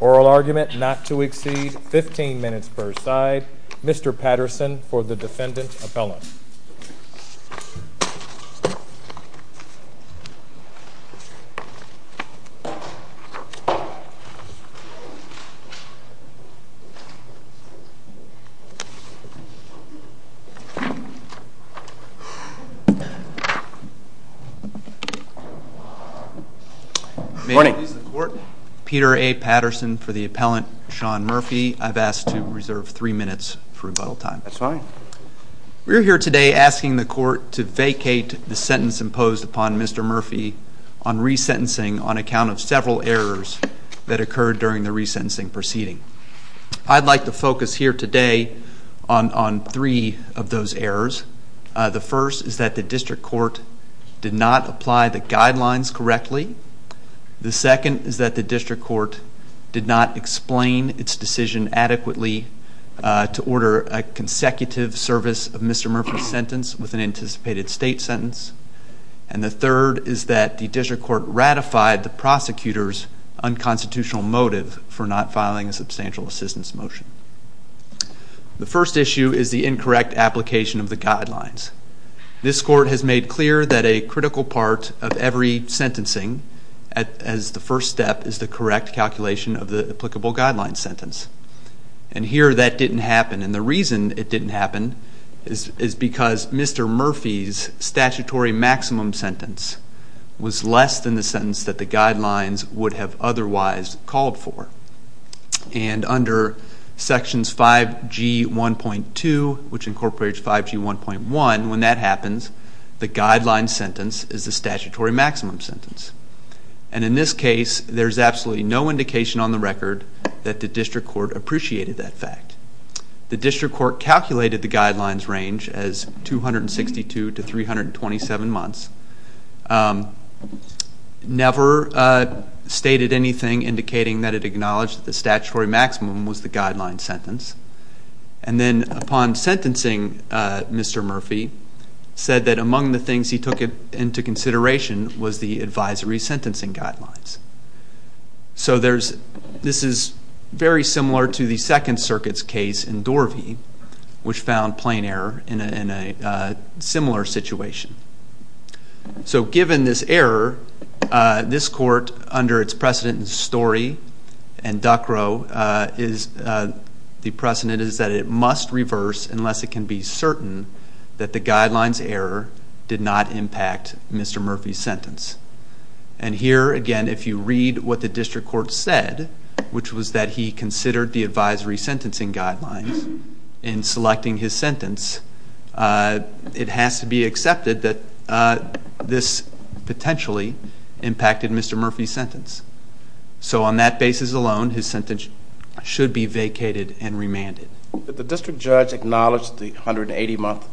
oral argument not to exceed 15 minutes per side. Mr. Patterson for the defendant appellant. May it please the court, Peter A. Patterson for the appellant, Sean Murphy. I've asked to reserve three minutes for rebuttal time. That's fine. We're here today asking the court to vacate the sentence imposed upon Mr. Murphy on resentencing on account of several errors that occurred during the resentencing proceeding. I'd like to focus here today on three of those errors. The first is that the district court did not apply the guidelines correctly. The second is that the district court did not explain its decision adequately to order a consecutive service of Mr. Murphy's sentence with an anticipated state sentence. And the third is that the district court ratified the prosecutor's unconstitutional motive for not filing a substantial assistance motion. The first issue is the incorrect application of the guidelines. This court has made clear that a critical part of every sentencing as the first step is the correct calculation of the applicable guidelines sentence. And here that didn't happen. And the reason it didn't happen is because Mr. Murphy's statutory maximum sentence was less than the sentence that the guidelines would have otherwise called for. And under sections 5G1.2, which incorporates 5G1.1, when that happens, the guideline sentence is the statutory maximum sentence. And in this case, there's absolutely no indication on the record that the district court appreciated that fact. The district court calculated the guidelines range as 262 to 327 months, never stated anything indicating that it acknowledged that the statutory maximum was the guideline sentence. And then upon sentencing, Mr. Murphy said that among the things he took into consideration was the advisory sentencing guidelines. So this is very similar to the Second Circuit's case in Dorvey, which found plain error in a similar situation. So given this error, this court, under its precedent in Story and Duckrow, the precedent is that it must reverse unless it can be certain that the guidelines error did not impact Mr. Murphy's sentence. And here, again, if you read what the district court said, which was that he considered the advisory sentencing guidelines in selecting his sentence, it has to be accepted that this potentially impacted Mr. Murphy's sentence. So on that basis alone, his sentence should be vacated and remanded. Did the district judge acknowledge the 180-month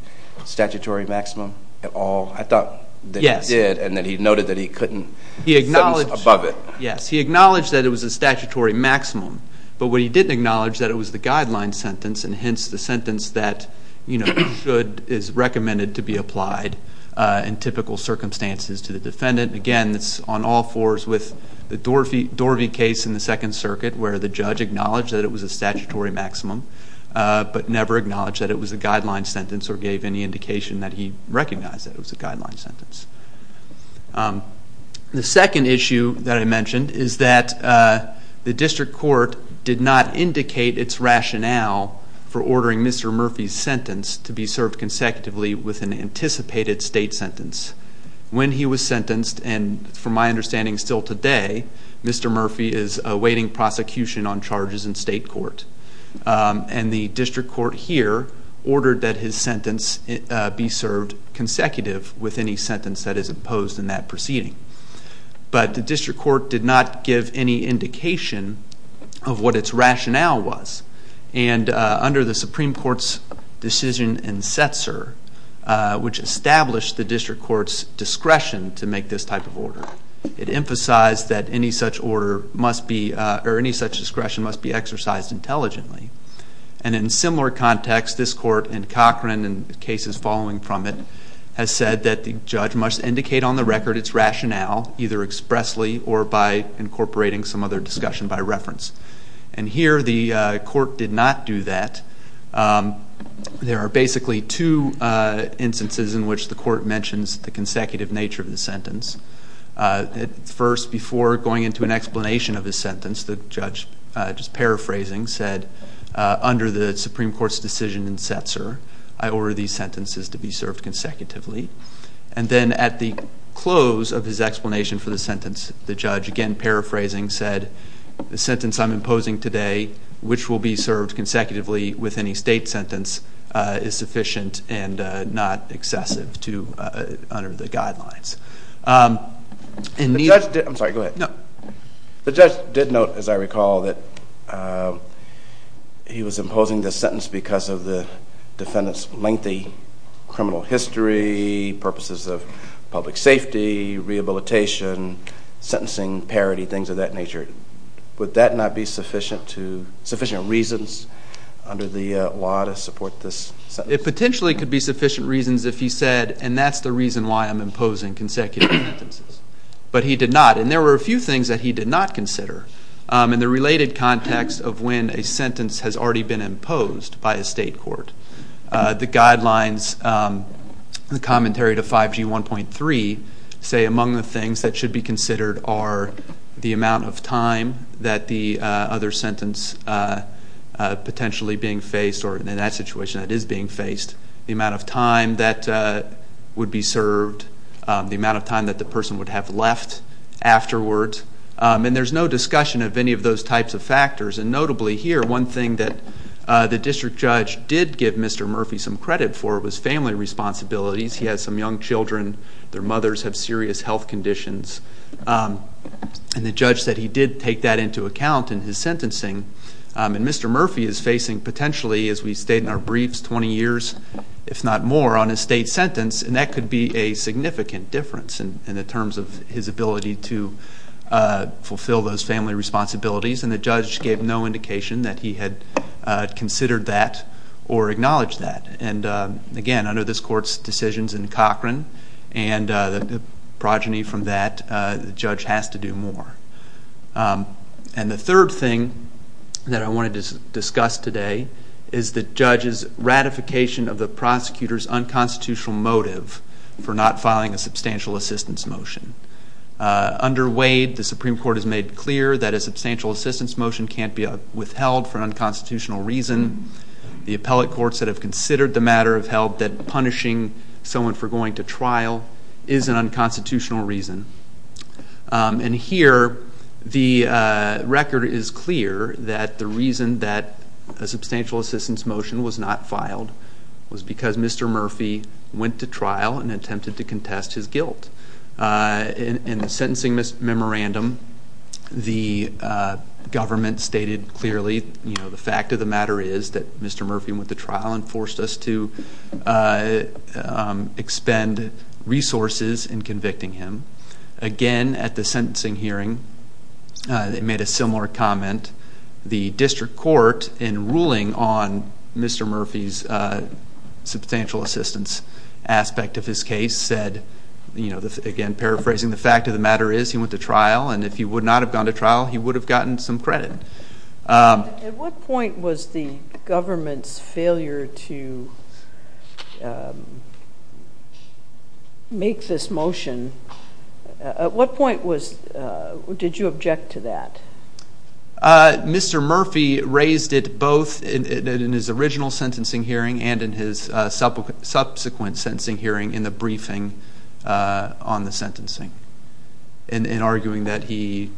statutory maximum at all? I thought that he did. Yes. And that he noted that he couldn't sentence above it. Yes. He acknowledged that it was a statutory maximum. But what he didn't acknowledge is that it was the guideline sentence, and hence the sentence that should, is recommended to be applied in typical circumstances to the defendant. Again, it's on all fours with the Dorvey case in the Second Circuit, where the judge acknowledged that it was a statutory maximum, but never acknowledged that it was a guideline sentence or gave any indication that he recognized that it was a guideline sentence. The second issue that I mentioned is that the district court did not indicate its rationale for ordering Mr. Murphy's sentence to be served consecutively with an anticipated state sentence. When he was sentenced, and from my understanding still today, Mr. Murphy is awaiting prosecution on charges in state court, and the district court here ordered that his sentence be served consecutive with any sentence that is imposed in that proceeding. But the district court did not give any indication of what its rationale was. And under the Supreme Court's decision in Setzer, which established the district court's discretion to make this type of order, it emphasized that any such order must be, or any such discretion must be exercised intelligently. And in similar context, this court in Cochran and the cases following from it, has said that the judge must indicate on the record its rationale, either expressly or by incorporating some other discussion by reference. And here the court did not do that. There are basically two instances in which the court mentions the consecutive nature of the sentence. First, before going into an explanation of his sentence, the judge, just paraphrasing, said, under the Supreme Court's decision in Setzer, I order these sentences to be served consecutively. And then at the close of his explanation for the sentence, the judge, again paraphrasing, said, the sentence I'm imposing today, which will be served consecutively with any state sentence, is sufficient and not excessive to, under the guidelines. The judge did note, as I recall, that he was imposing this sentence because of the defendant's lengthy criminal history, purposes of public safety, rehabilitation, sentencing parity, things of that nature. Would that not be sufficient reasons under the law to support this sentence? It potentially could be sufficient reasons if he said, and that's the reason why I'm imposing consecutive sentences. But he did not. And there were a few things that he did not consider in the related context of when a sentence has already been imposed by a state court. The guidelines, the commentary to 5G 1.3, say among the things that should be considered are the amount of time that the other sentence potentially being faced, or in that situation it is being faced, the amount of time that would be served, the amount of time that the person would have left afterwards. And there's no discussion of any of those types of factors. And notably here, one thing that the district judge did give Mr. Murphy some credit for was family responsibilities. He has some young children. Their mothers have serious health conditions. And the judge said he did take that into account in his sentencing. And Mr. Murphy is facing potentially, as we state in our briefs, 20 years, if not more, on a state sentence. And that could be a significant difference in the terms of his ability to fulfill those family responsibilities. And the judge gave no indication that he had considered that or acknowledged that. And, again, under this court's decisions in Cochran and the progeny from that, the judge has to do more. And the third thing that I wanted to discuss today is the judge's ratification of the prosecutor's unconstitutional motive for not filing a substantial assistance motion. Under Wade, the Supreme Court has made clear that a substantial assistance motion can't be withheld for an unconstitutional reason. The appellate courts that have considered the matter have held that punishing someone for going to trial is an unconstitutional reason. And here, the record is clear that the reason that a substantial assistance motion was not filed was because Mr. Murphy went to trial and attempted to contest his guilt. In the sentencing memorandum, the government stated clearly, you know, the fact of the matter is that Mr. Murphy went to trial and forced us to expend resources in convicting him. Again, at the sentencing hearing, they made a similar comment. The district court, in ruling on Mr. Murphy's substantial assistance aspect of his case, said, you know, again, paraphrasing, the fact of the matter is he went to trial, and if he would not have gone to trial, he would have gotten some credit. At what point was the government's failure to make this motion, at what point did you object to that? Mr. Murphy raised it both in his original sentencing hearing and in his subsequent sentencing hearing in the briefing on the sentencing, in arguing that he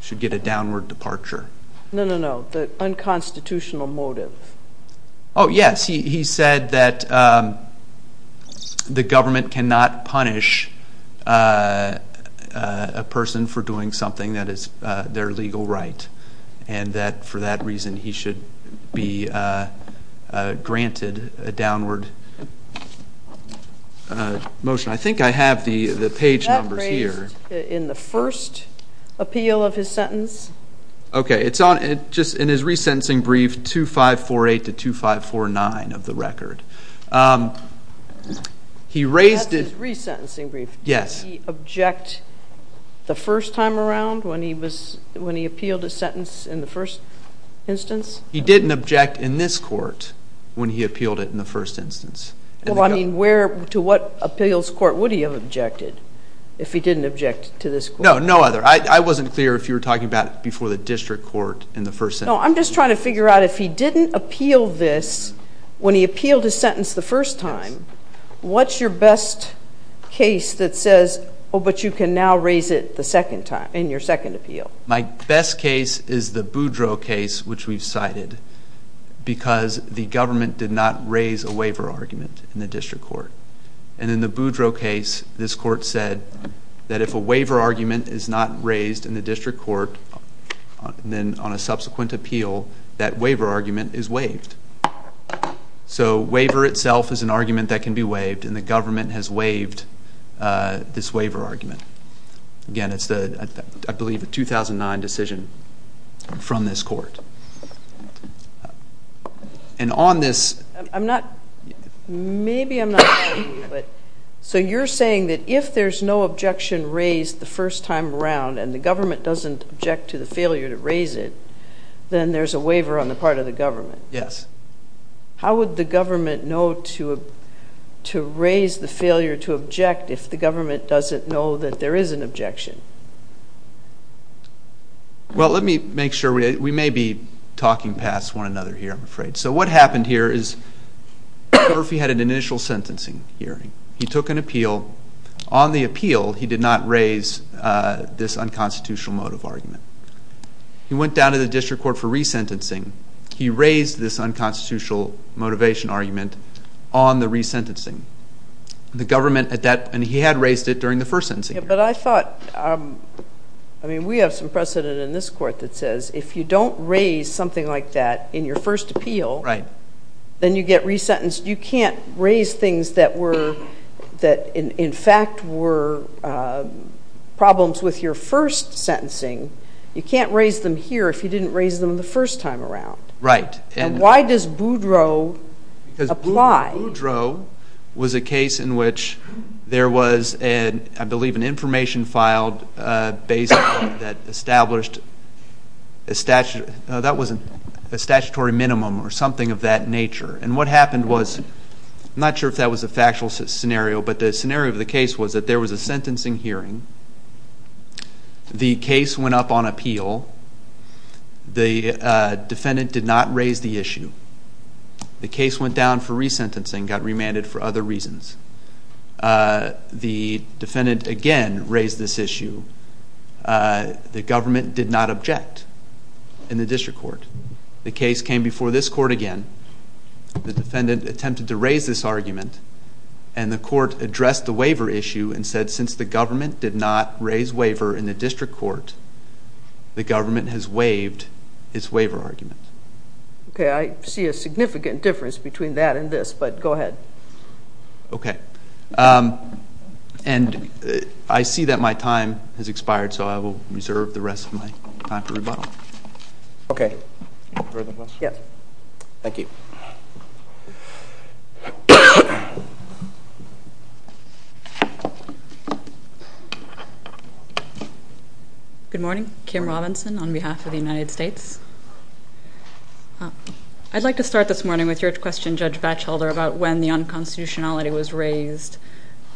should get a downward departure. No, no, no, the unconstitutional motive. Oh, yes, he said that the government cannot punish a person for doing something that is their legal right, and that for that reason he should be granted a downward motion. I think I have the page numbers here. That was raised in the first appeal of his sentence. Okay, it's on, just in his resentencing brief, 2548 to 2549 of the record. That's his resentencing brief. Yes. Did he object the first time around when he appealed his sentence in the first instance? He didn't object in this court when he appealed it in the first instance. Well, I mean, to what appeals court would he have objected if he didn't object to this court? No, no other. I wasn't clear if you were talking about before the district court in the first sentence. No, I'm just trying to figure out if he didn't appeal this when he appealed his sentence the first time, what's your best case that says, oh, but you can now raise it the second time, in your second appeal? My best case is the Boudreau case, which we've cited, because the government did not raise a waiver argument in the district court. And in the Boudreau case, this court said that if a waiver argument is not raised in the district court, then on a subsequent appeal, that waiver argument is waived. So waiver itself is an argument that can be waived, and the government has waived this waiver argument. Again, it's, I believe, a 2009 decision from this court. And on this- I'm not, maybe I'm not, so you're saying that if there's no objection raised the first time around and the government doesn't object to the failure to raise it, then there's a waiver on the part of the government. Yes. How would the government know to raise the failure to object if the government doesn't know that there is an objection? Well, let me make sure. We may be talking past one another here, I'm afraid. So what happened here is, Murphy had an initial sentencing hearing. He took an appeal. On the appeal, he did not raise this unconstitutional motive argument. He went down to the district court for resentencing. He raised this unconstitutional motivation argument on the resentencing. But I thought, I mean, we have some precedent in this court that says if you don't raise something like that in your first appeal- Right. Then you get resentenced. You can't raise things that were, that in fact were problems with your first sentencing. You can't raise them here if you didn't raise them the first time around. Right. And why does Boudreau apply? Because Boudreau was a case in which there was, I believe, an information filed basically that established a statutory minimum or something of that nature. And what happened was, I'm not sure if that was a factual scenario, but the scenario of the case was that there was a sentencing hearing. The case went up on appeal. The defendant did not raise the issue. The case went down for resentencing, got remanded for other reasons. The defendant again raised this issue. The government did not object in the district court. The case came before this court again. The defendant attempted to raise this argument. And the court addressed the waiver issue and said since the government did not raise waiver in the district court, the government has waived its waiver argument. Okay, I see a significant difference between that and this, but go ahead. Okay. And I see that my time has expired, so I will reserve the rest of my time for rebuttal. Okay. Further questions? Yes. Thank you. Good morning. Kim Robinson on behalf of the United States. I'd like to start this morning with your question, Judge Vatchelder, about when the unconstitutionality was raised.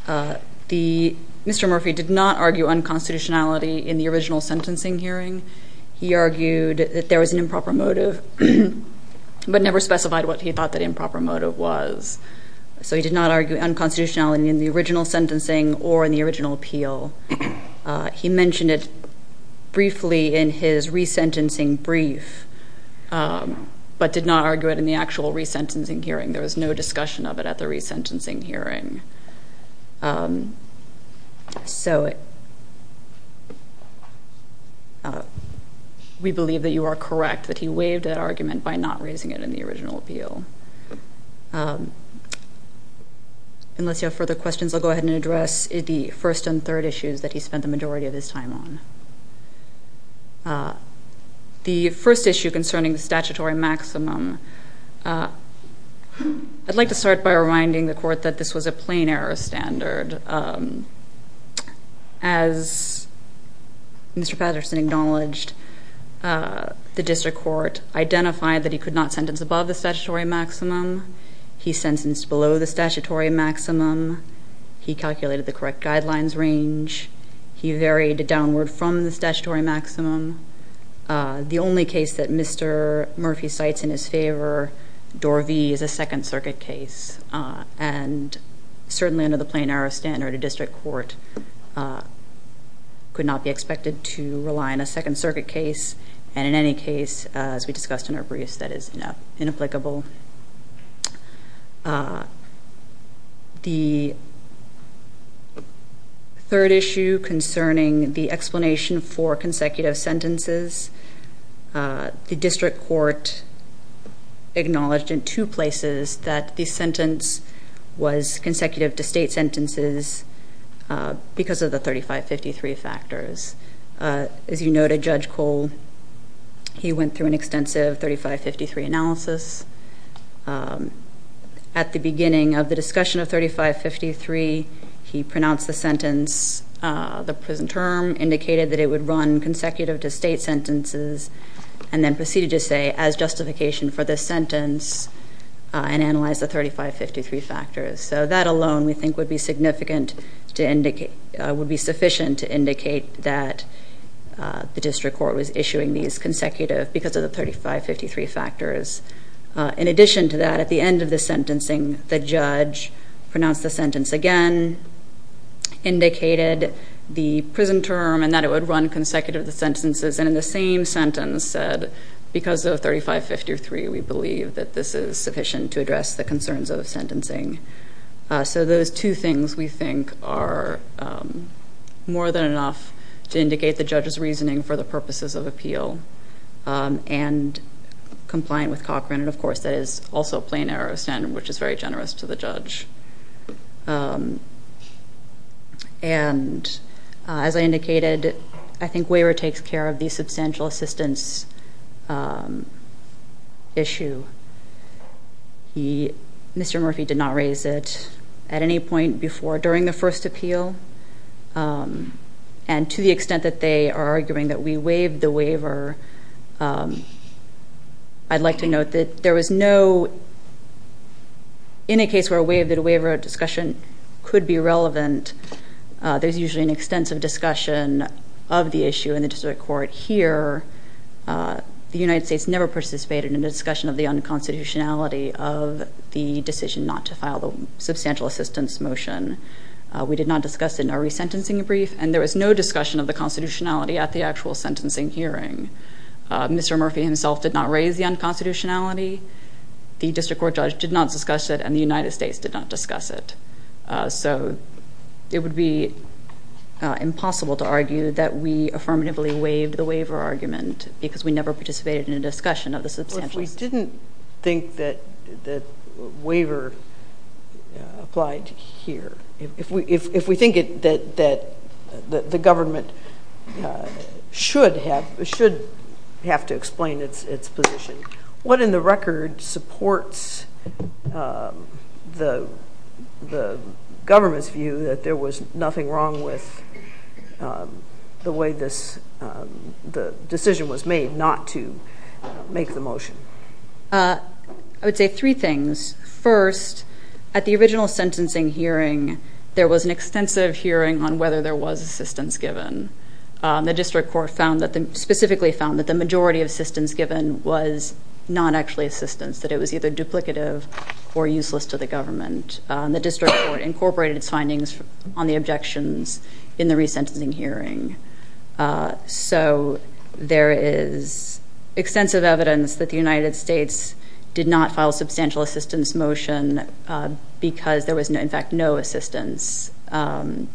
Mr. Murphy did not argue unconstitutionality in the original sentencing hearing. He argued that there was an improper motive, but never specified what he thought that improper motive was. So he did not argue unconstitutionality in the original sentencing or in the original appeal. He mentioned it briefly in his resentencing brief, but did not argue it in the actual resentencing hearing. There was no discussion of it at the resentencing hearing. So we believe that you are correct, that he waived that argument by not raising it in the original appeal. Unless you have further questions, I'll go ahead and address the first and third issues that he spent the majority of his time on. The first issue concerning the statutory maximum, I'd like to start by reminding the court that this was a plain error standard. As Mr. Patterson acknowledged, the district court identified that he could not sentence above the statutory maximum. He sentenced below the statutory maximum. He calculated the correct guidelines range. He varied it downward from the statutory maximum. The only case that Mr. Murphy cites in his favor, Door V, is a Second Circuit case. And certainly under the plain error standard, a district court could not be expected to rely on a Second Circuit case. And in any case, as we discussed in our briefs, that is inapplicable. The third issue concerning the explanation for consecutive sentences, the district court acknowledged in two places that the sentence was consecutive to state sentences because of the 3553 factors. As you noted, Judge Cole, he went through an extensive 3553 analysis. At the beginning of the discussion of 3553, he pronounced the sentence, the prison term, indicated that it would run consecutive to state sentences, and then proceeded to say, as justification for this sentence, and analyzed the 3553 factors. So that alone, we think, would be sufficient to indicate that the district court was issuing these consecutive because of the 3553 factors. In addition to that, at the end of the sentencing, the judge pronounced the sentence again, indicated the prison term and that it would run consecutive to sentences, and in the same sentence said, because of 3553, we believe that this is sufficient to address the concerns of sentencing. So those two things, we think, are more than enough to indicate the judge's reasoning for the purposes of appeal and compliant with Cochran. And of course, that is also a plain error standard, which is very generous to the judge. And as I indicated, I think Waiver takes care of the substantial assistance issue. Mr. Murphy did not raise it at any point before during the first appeal, and to the extent that they are arguing that we waived the waiver, I'd like to note that there was no—in a case where a waiver of discussion could be relevant, there's usually an extensive discussion of the issue in the district court. Here, the United States never participated in the discussion of the unconstitutionality of the decision not to file the substantial assistance motion. We did not discuss it in our resentencing brief, and there was no discussion of the constitutionality at the actual sentencing hearing. Mr. Murphy himself did not raise the unconstitutionality. The district court judge did not discuss it, and the United States did not discuss it. So it would be impossible to argue that we affirmatively waived the waiver argument because we never participated in a discussion of the substantial— I didn't think that waiver applied here. If we think that the government should have to explain its position, what in the record supports the government's view that there was nothing wrong with the way this—the decision was made not to make the motion? I would say three things. First, at the original sentencing hearing, there was an extensive hearing on whether there was assistance given. The district court found that—specifically found that the majority of assistance given was not actually assistance, that it was either duplicative or useless to the government. The district court incorporated its findings on the objections in the resentencing hearing. So there is extensive evidence that the United States did not file a substantial assistance motion because there was, in fact, no assistance. And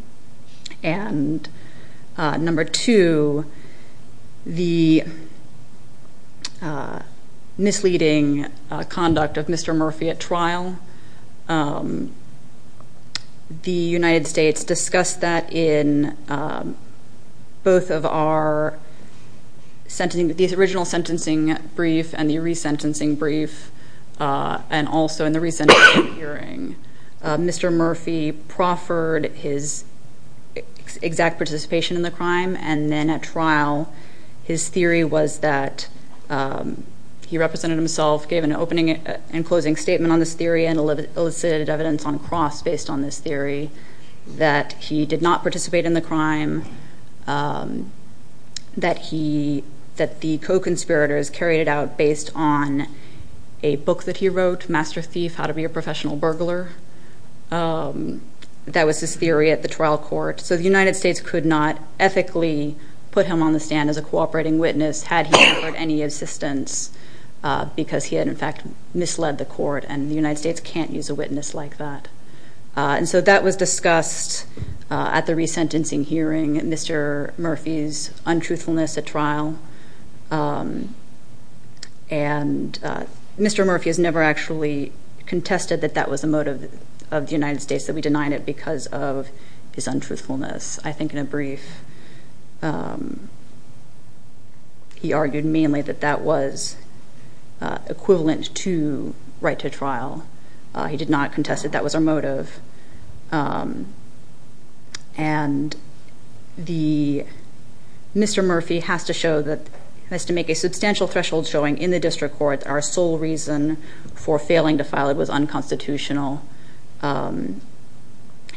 number two, the misleading conduct of Mr. Murphy at trial. The United States discussed that in both of our sentencing—the original sentencing brief and the resentencing brief, and also in the resentencing hearing. Mr. Murphy proffered his exact participation in the crime, and then at trial, his theory was that he represented himself, gave an opening and closing statement on this theory, and elicited evidence on cross based on this theory, that he did not participate in the crime, that the co-conspirators carried it out based on a book that he wrote, Master Thief, How to Be a Professional Burglar. That was his theory at the trial court. So the United States could not ethically put him on the stand as a cooperating witness had he offered any assistance, because he had, in fact, misled the court, and the United States can't use a witness like that. And so that was discussed at the resentencing hearing, Mr. Murphy's untruthfulness at trial. And Mr. Murphy has never actually contested that that was the motive of the United States, that we denied it because of his untruthfulness. I think in a brief, he argued mainly that that was equivalent to right to trial. He did not contest that that was our motive. And Mr. Murphy has to show that, has to make a substantial threshold showing in the district court, our sole reason for failing to file it was unconstitutional. And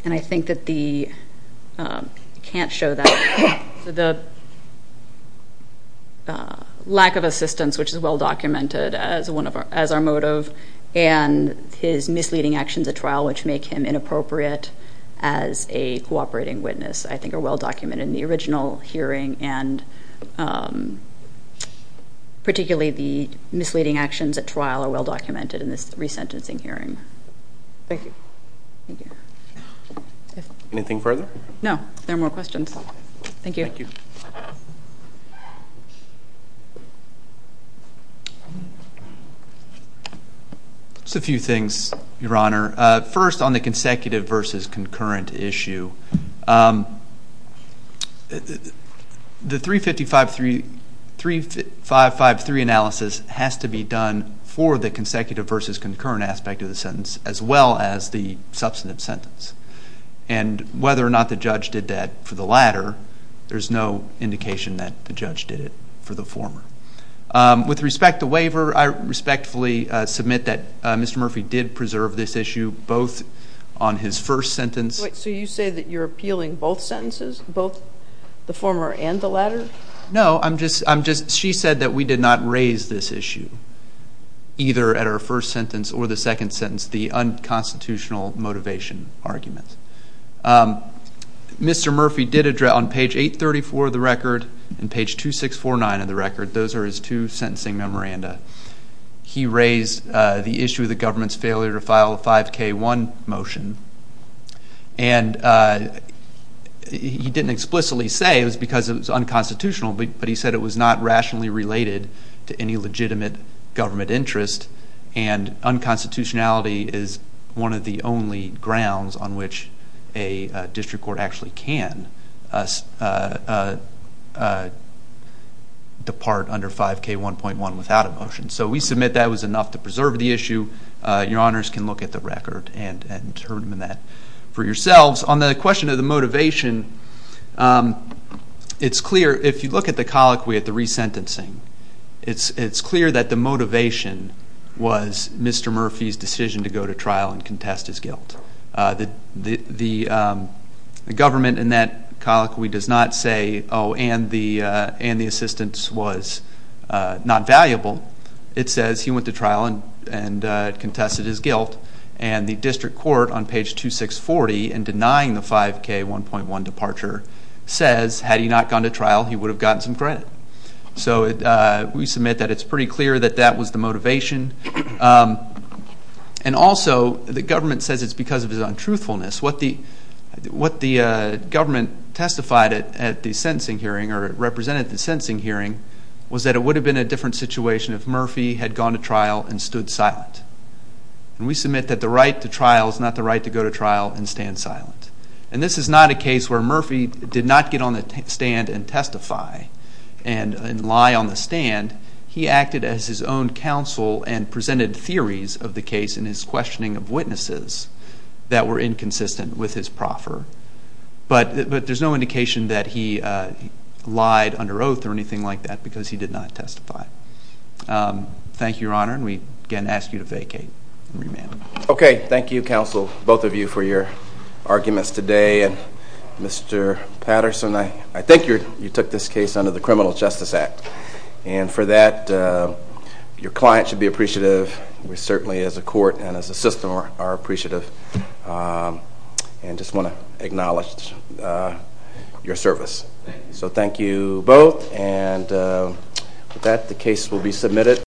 I think that the, can't show that. The lack of assistance, which is well documented as our motive, and his misleading actions at trial, which make him inappropriate as a cooperating witness, I think are well documented in the original hearing, and particularly the misleading actions at trial are well documented in this resentencing hearing. Thank you. Thank you. Anything further? No, if there are more questions. Thank you. Thank you. Just a few things, Your Honor. First, on the consecutive versus concurrent issue, the 3553 analysis has to be done for the consecutive versus concurrent aspect of the sentence, as well as the substantive sentence. And whether or not the judge did that for the latter, there's no indication that the judge did it for the former. With respect to waiver, I respectfully submit that Mr. Murphy did preserve this issue, both on his first sentence. So you say that you're appealing both sentences, both the former and the latter? No, I'm just, she said that we did not raise this issue, either at our first sentence or the second sentence, the unconstitutional motivation argument. Mr. Murphy did address, on page 834 of the record and page 2649 of the record, those are his two sentencing memoranda. He raised the issue of the government's failure to file a 5K1 motion, and he didn't explicitly say it was because it was unconstitutional, but he said it was not rationally related to any legitimate government interest, and unconstitutionality is one of the only grounds on which a district court actually can depart under 5K1.1 without a motion. So we submit that it was enough to preserve the issue. Your honors can look at the record and determine that for yourselves. On the question of the motivation, it's clear, if you look at the colloquy at the resentencing, it's clear that the motivation was Mr. Murphy's decision to go to trial and contest his guilt. The government in that colloquy does not say, oh, and the assistance was not valuable. It says he went to trial and contested his guilt, and the district court on page 2640 in denying the 5K1.1 departure says, had he not gone to trial, he would have gotten some credit. So we submit that it's pretty clear that that was the motivation, and also the government says it's because of his untruthfulness. What the government testified at the sentencing hearing or represented at the sentencing hearing was that it would have been a different situation if Murphy had gone to trial and stood silent, and we submit that the right to trial is not the right to go to trial and stand silent, and this is not a case where Murphy did not get on the stand and testify and lie on the stand. He acted as his own counsel and presented theories of the case in his questioning of witnesses that were inconsistent with his proffer, but there's no indication that he lied under oath or anything like that because he did not testify. Thank you, Your Honor, and we again ask you to vacate and remand. Okay, thank you, counsel, both of you for your arguments today, and Mr. Patterson, I think you took this case under the Criminal Justice Act, and for that your client should be appreciative. We certainly as a court and as a system are appreciative and just want to acknowledge your service. So thank you both, and with that the case will be submitted.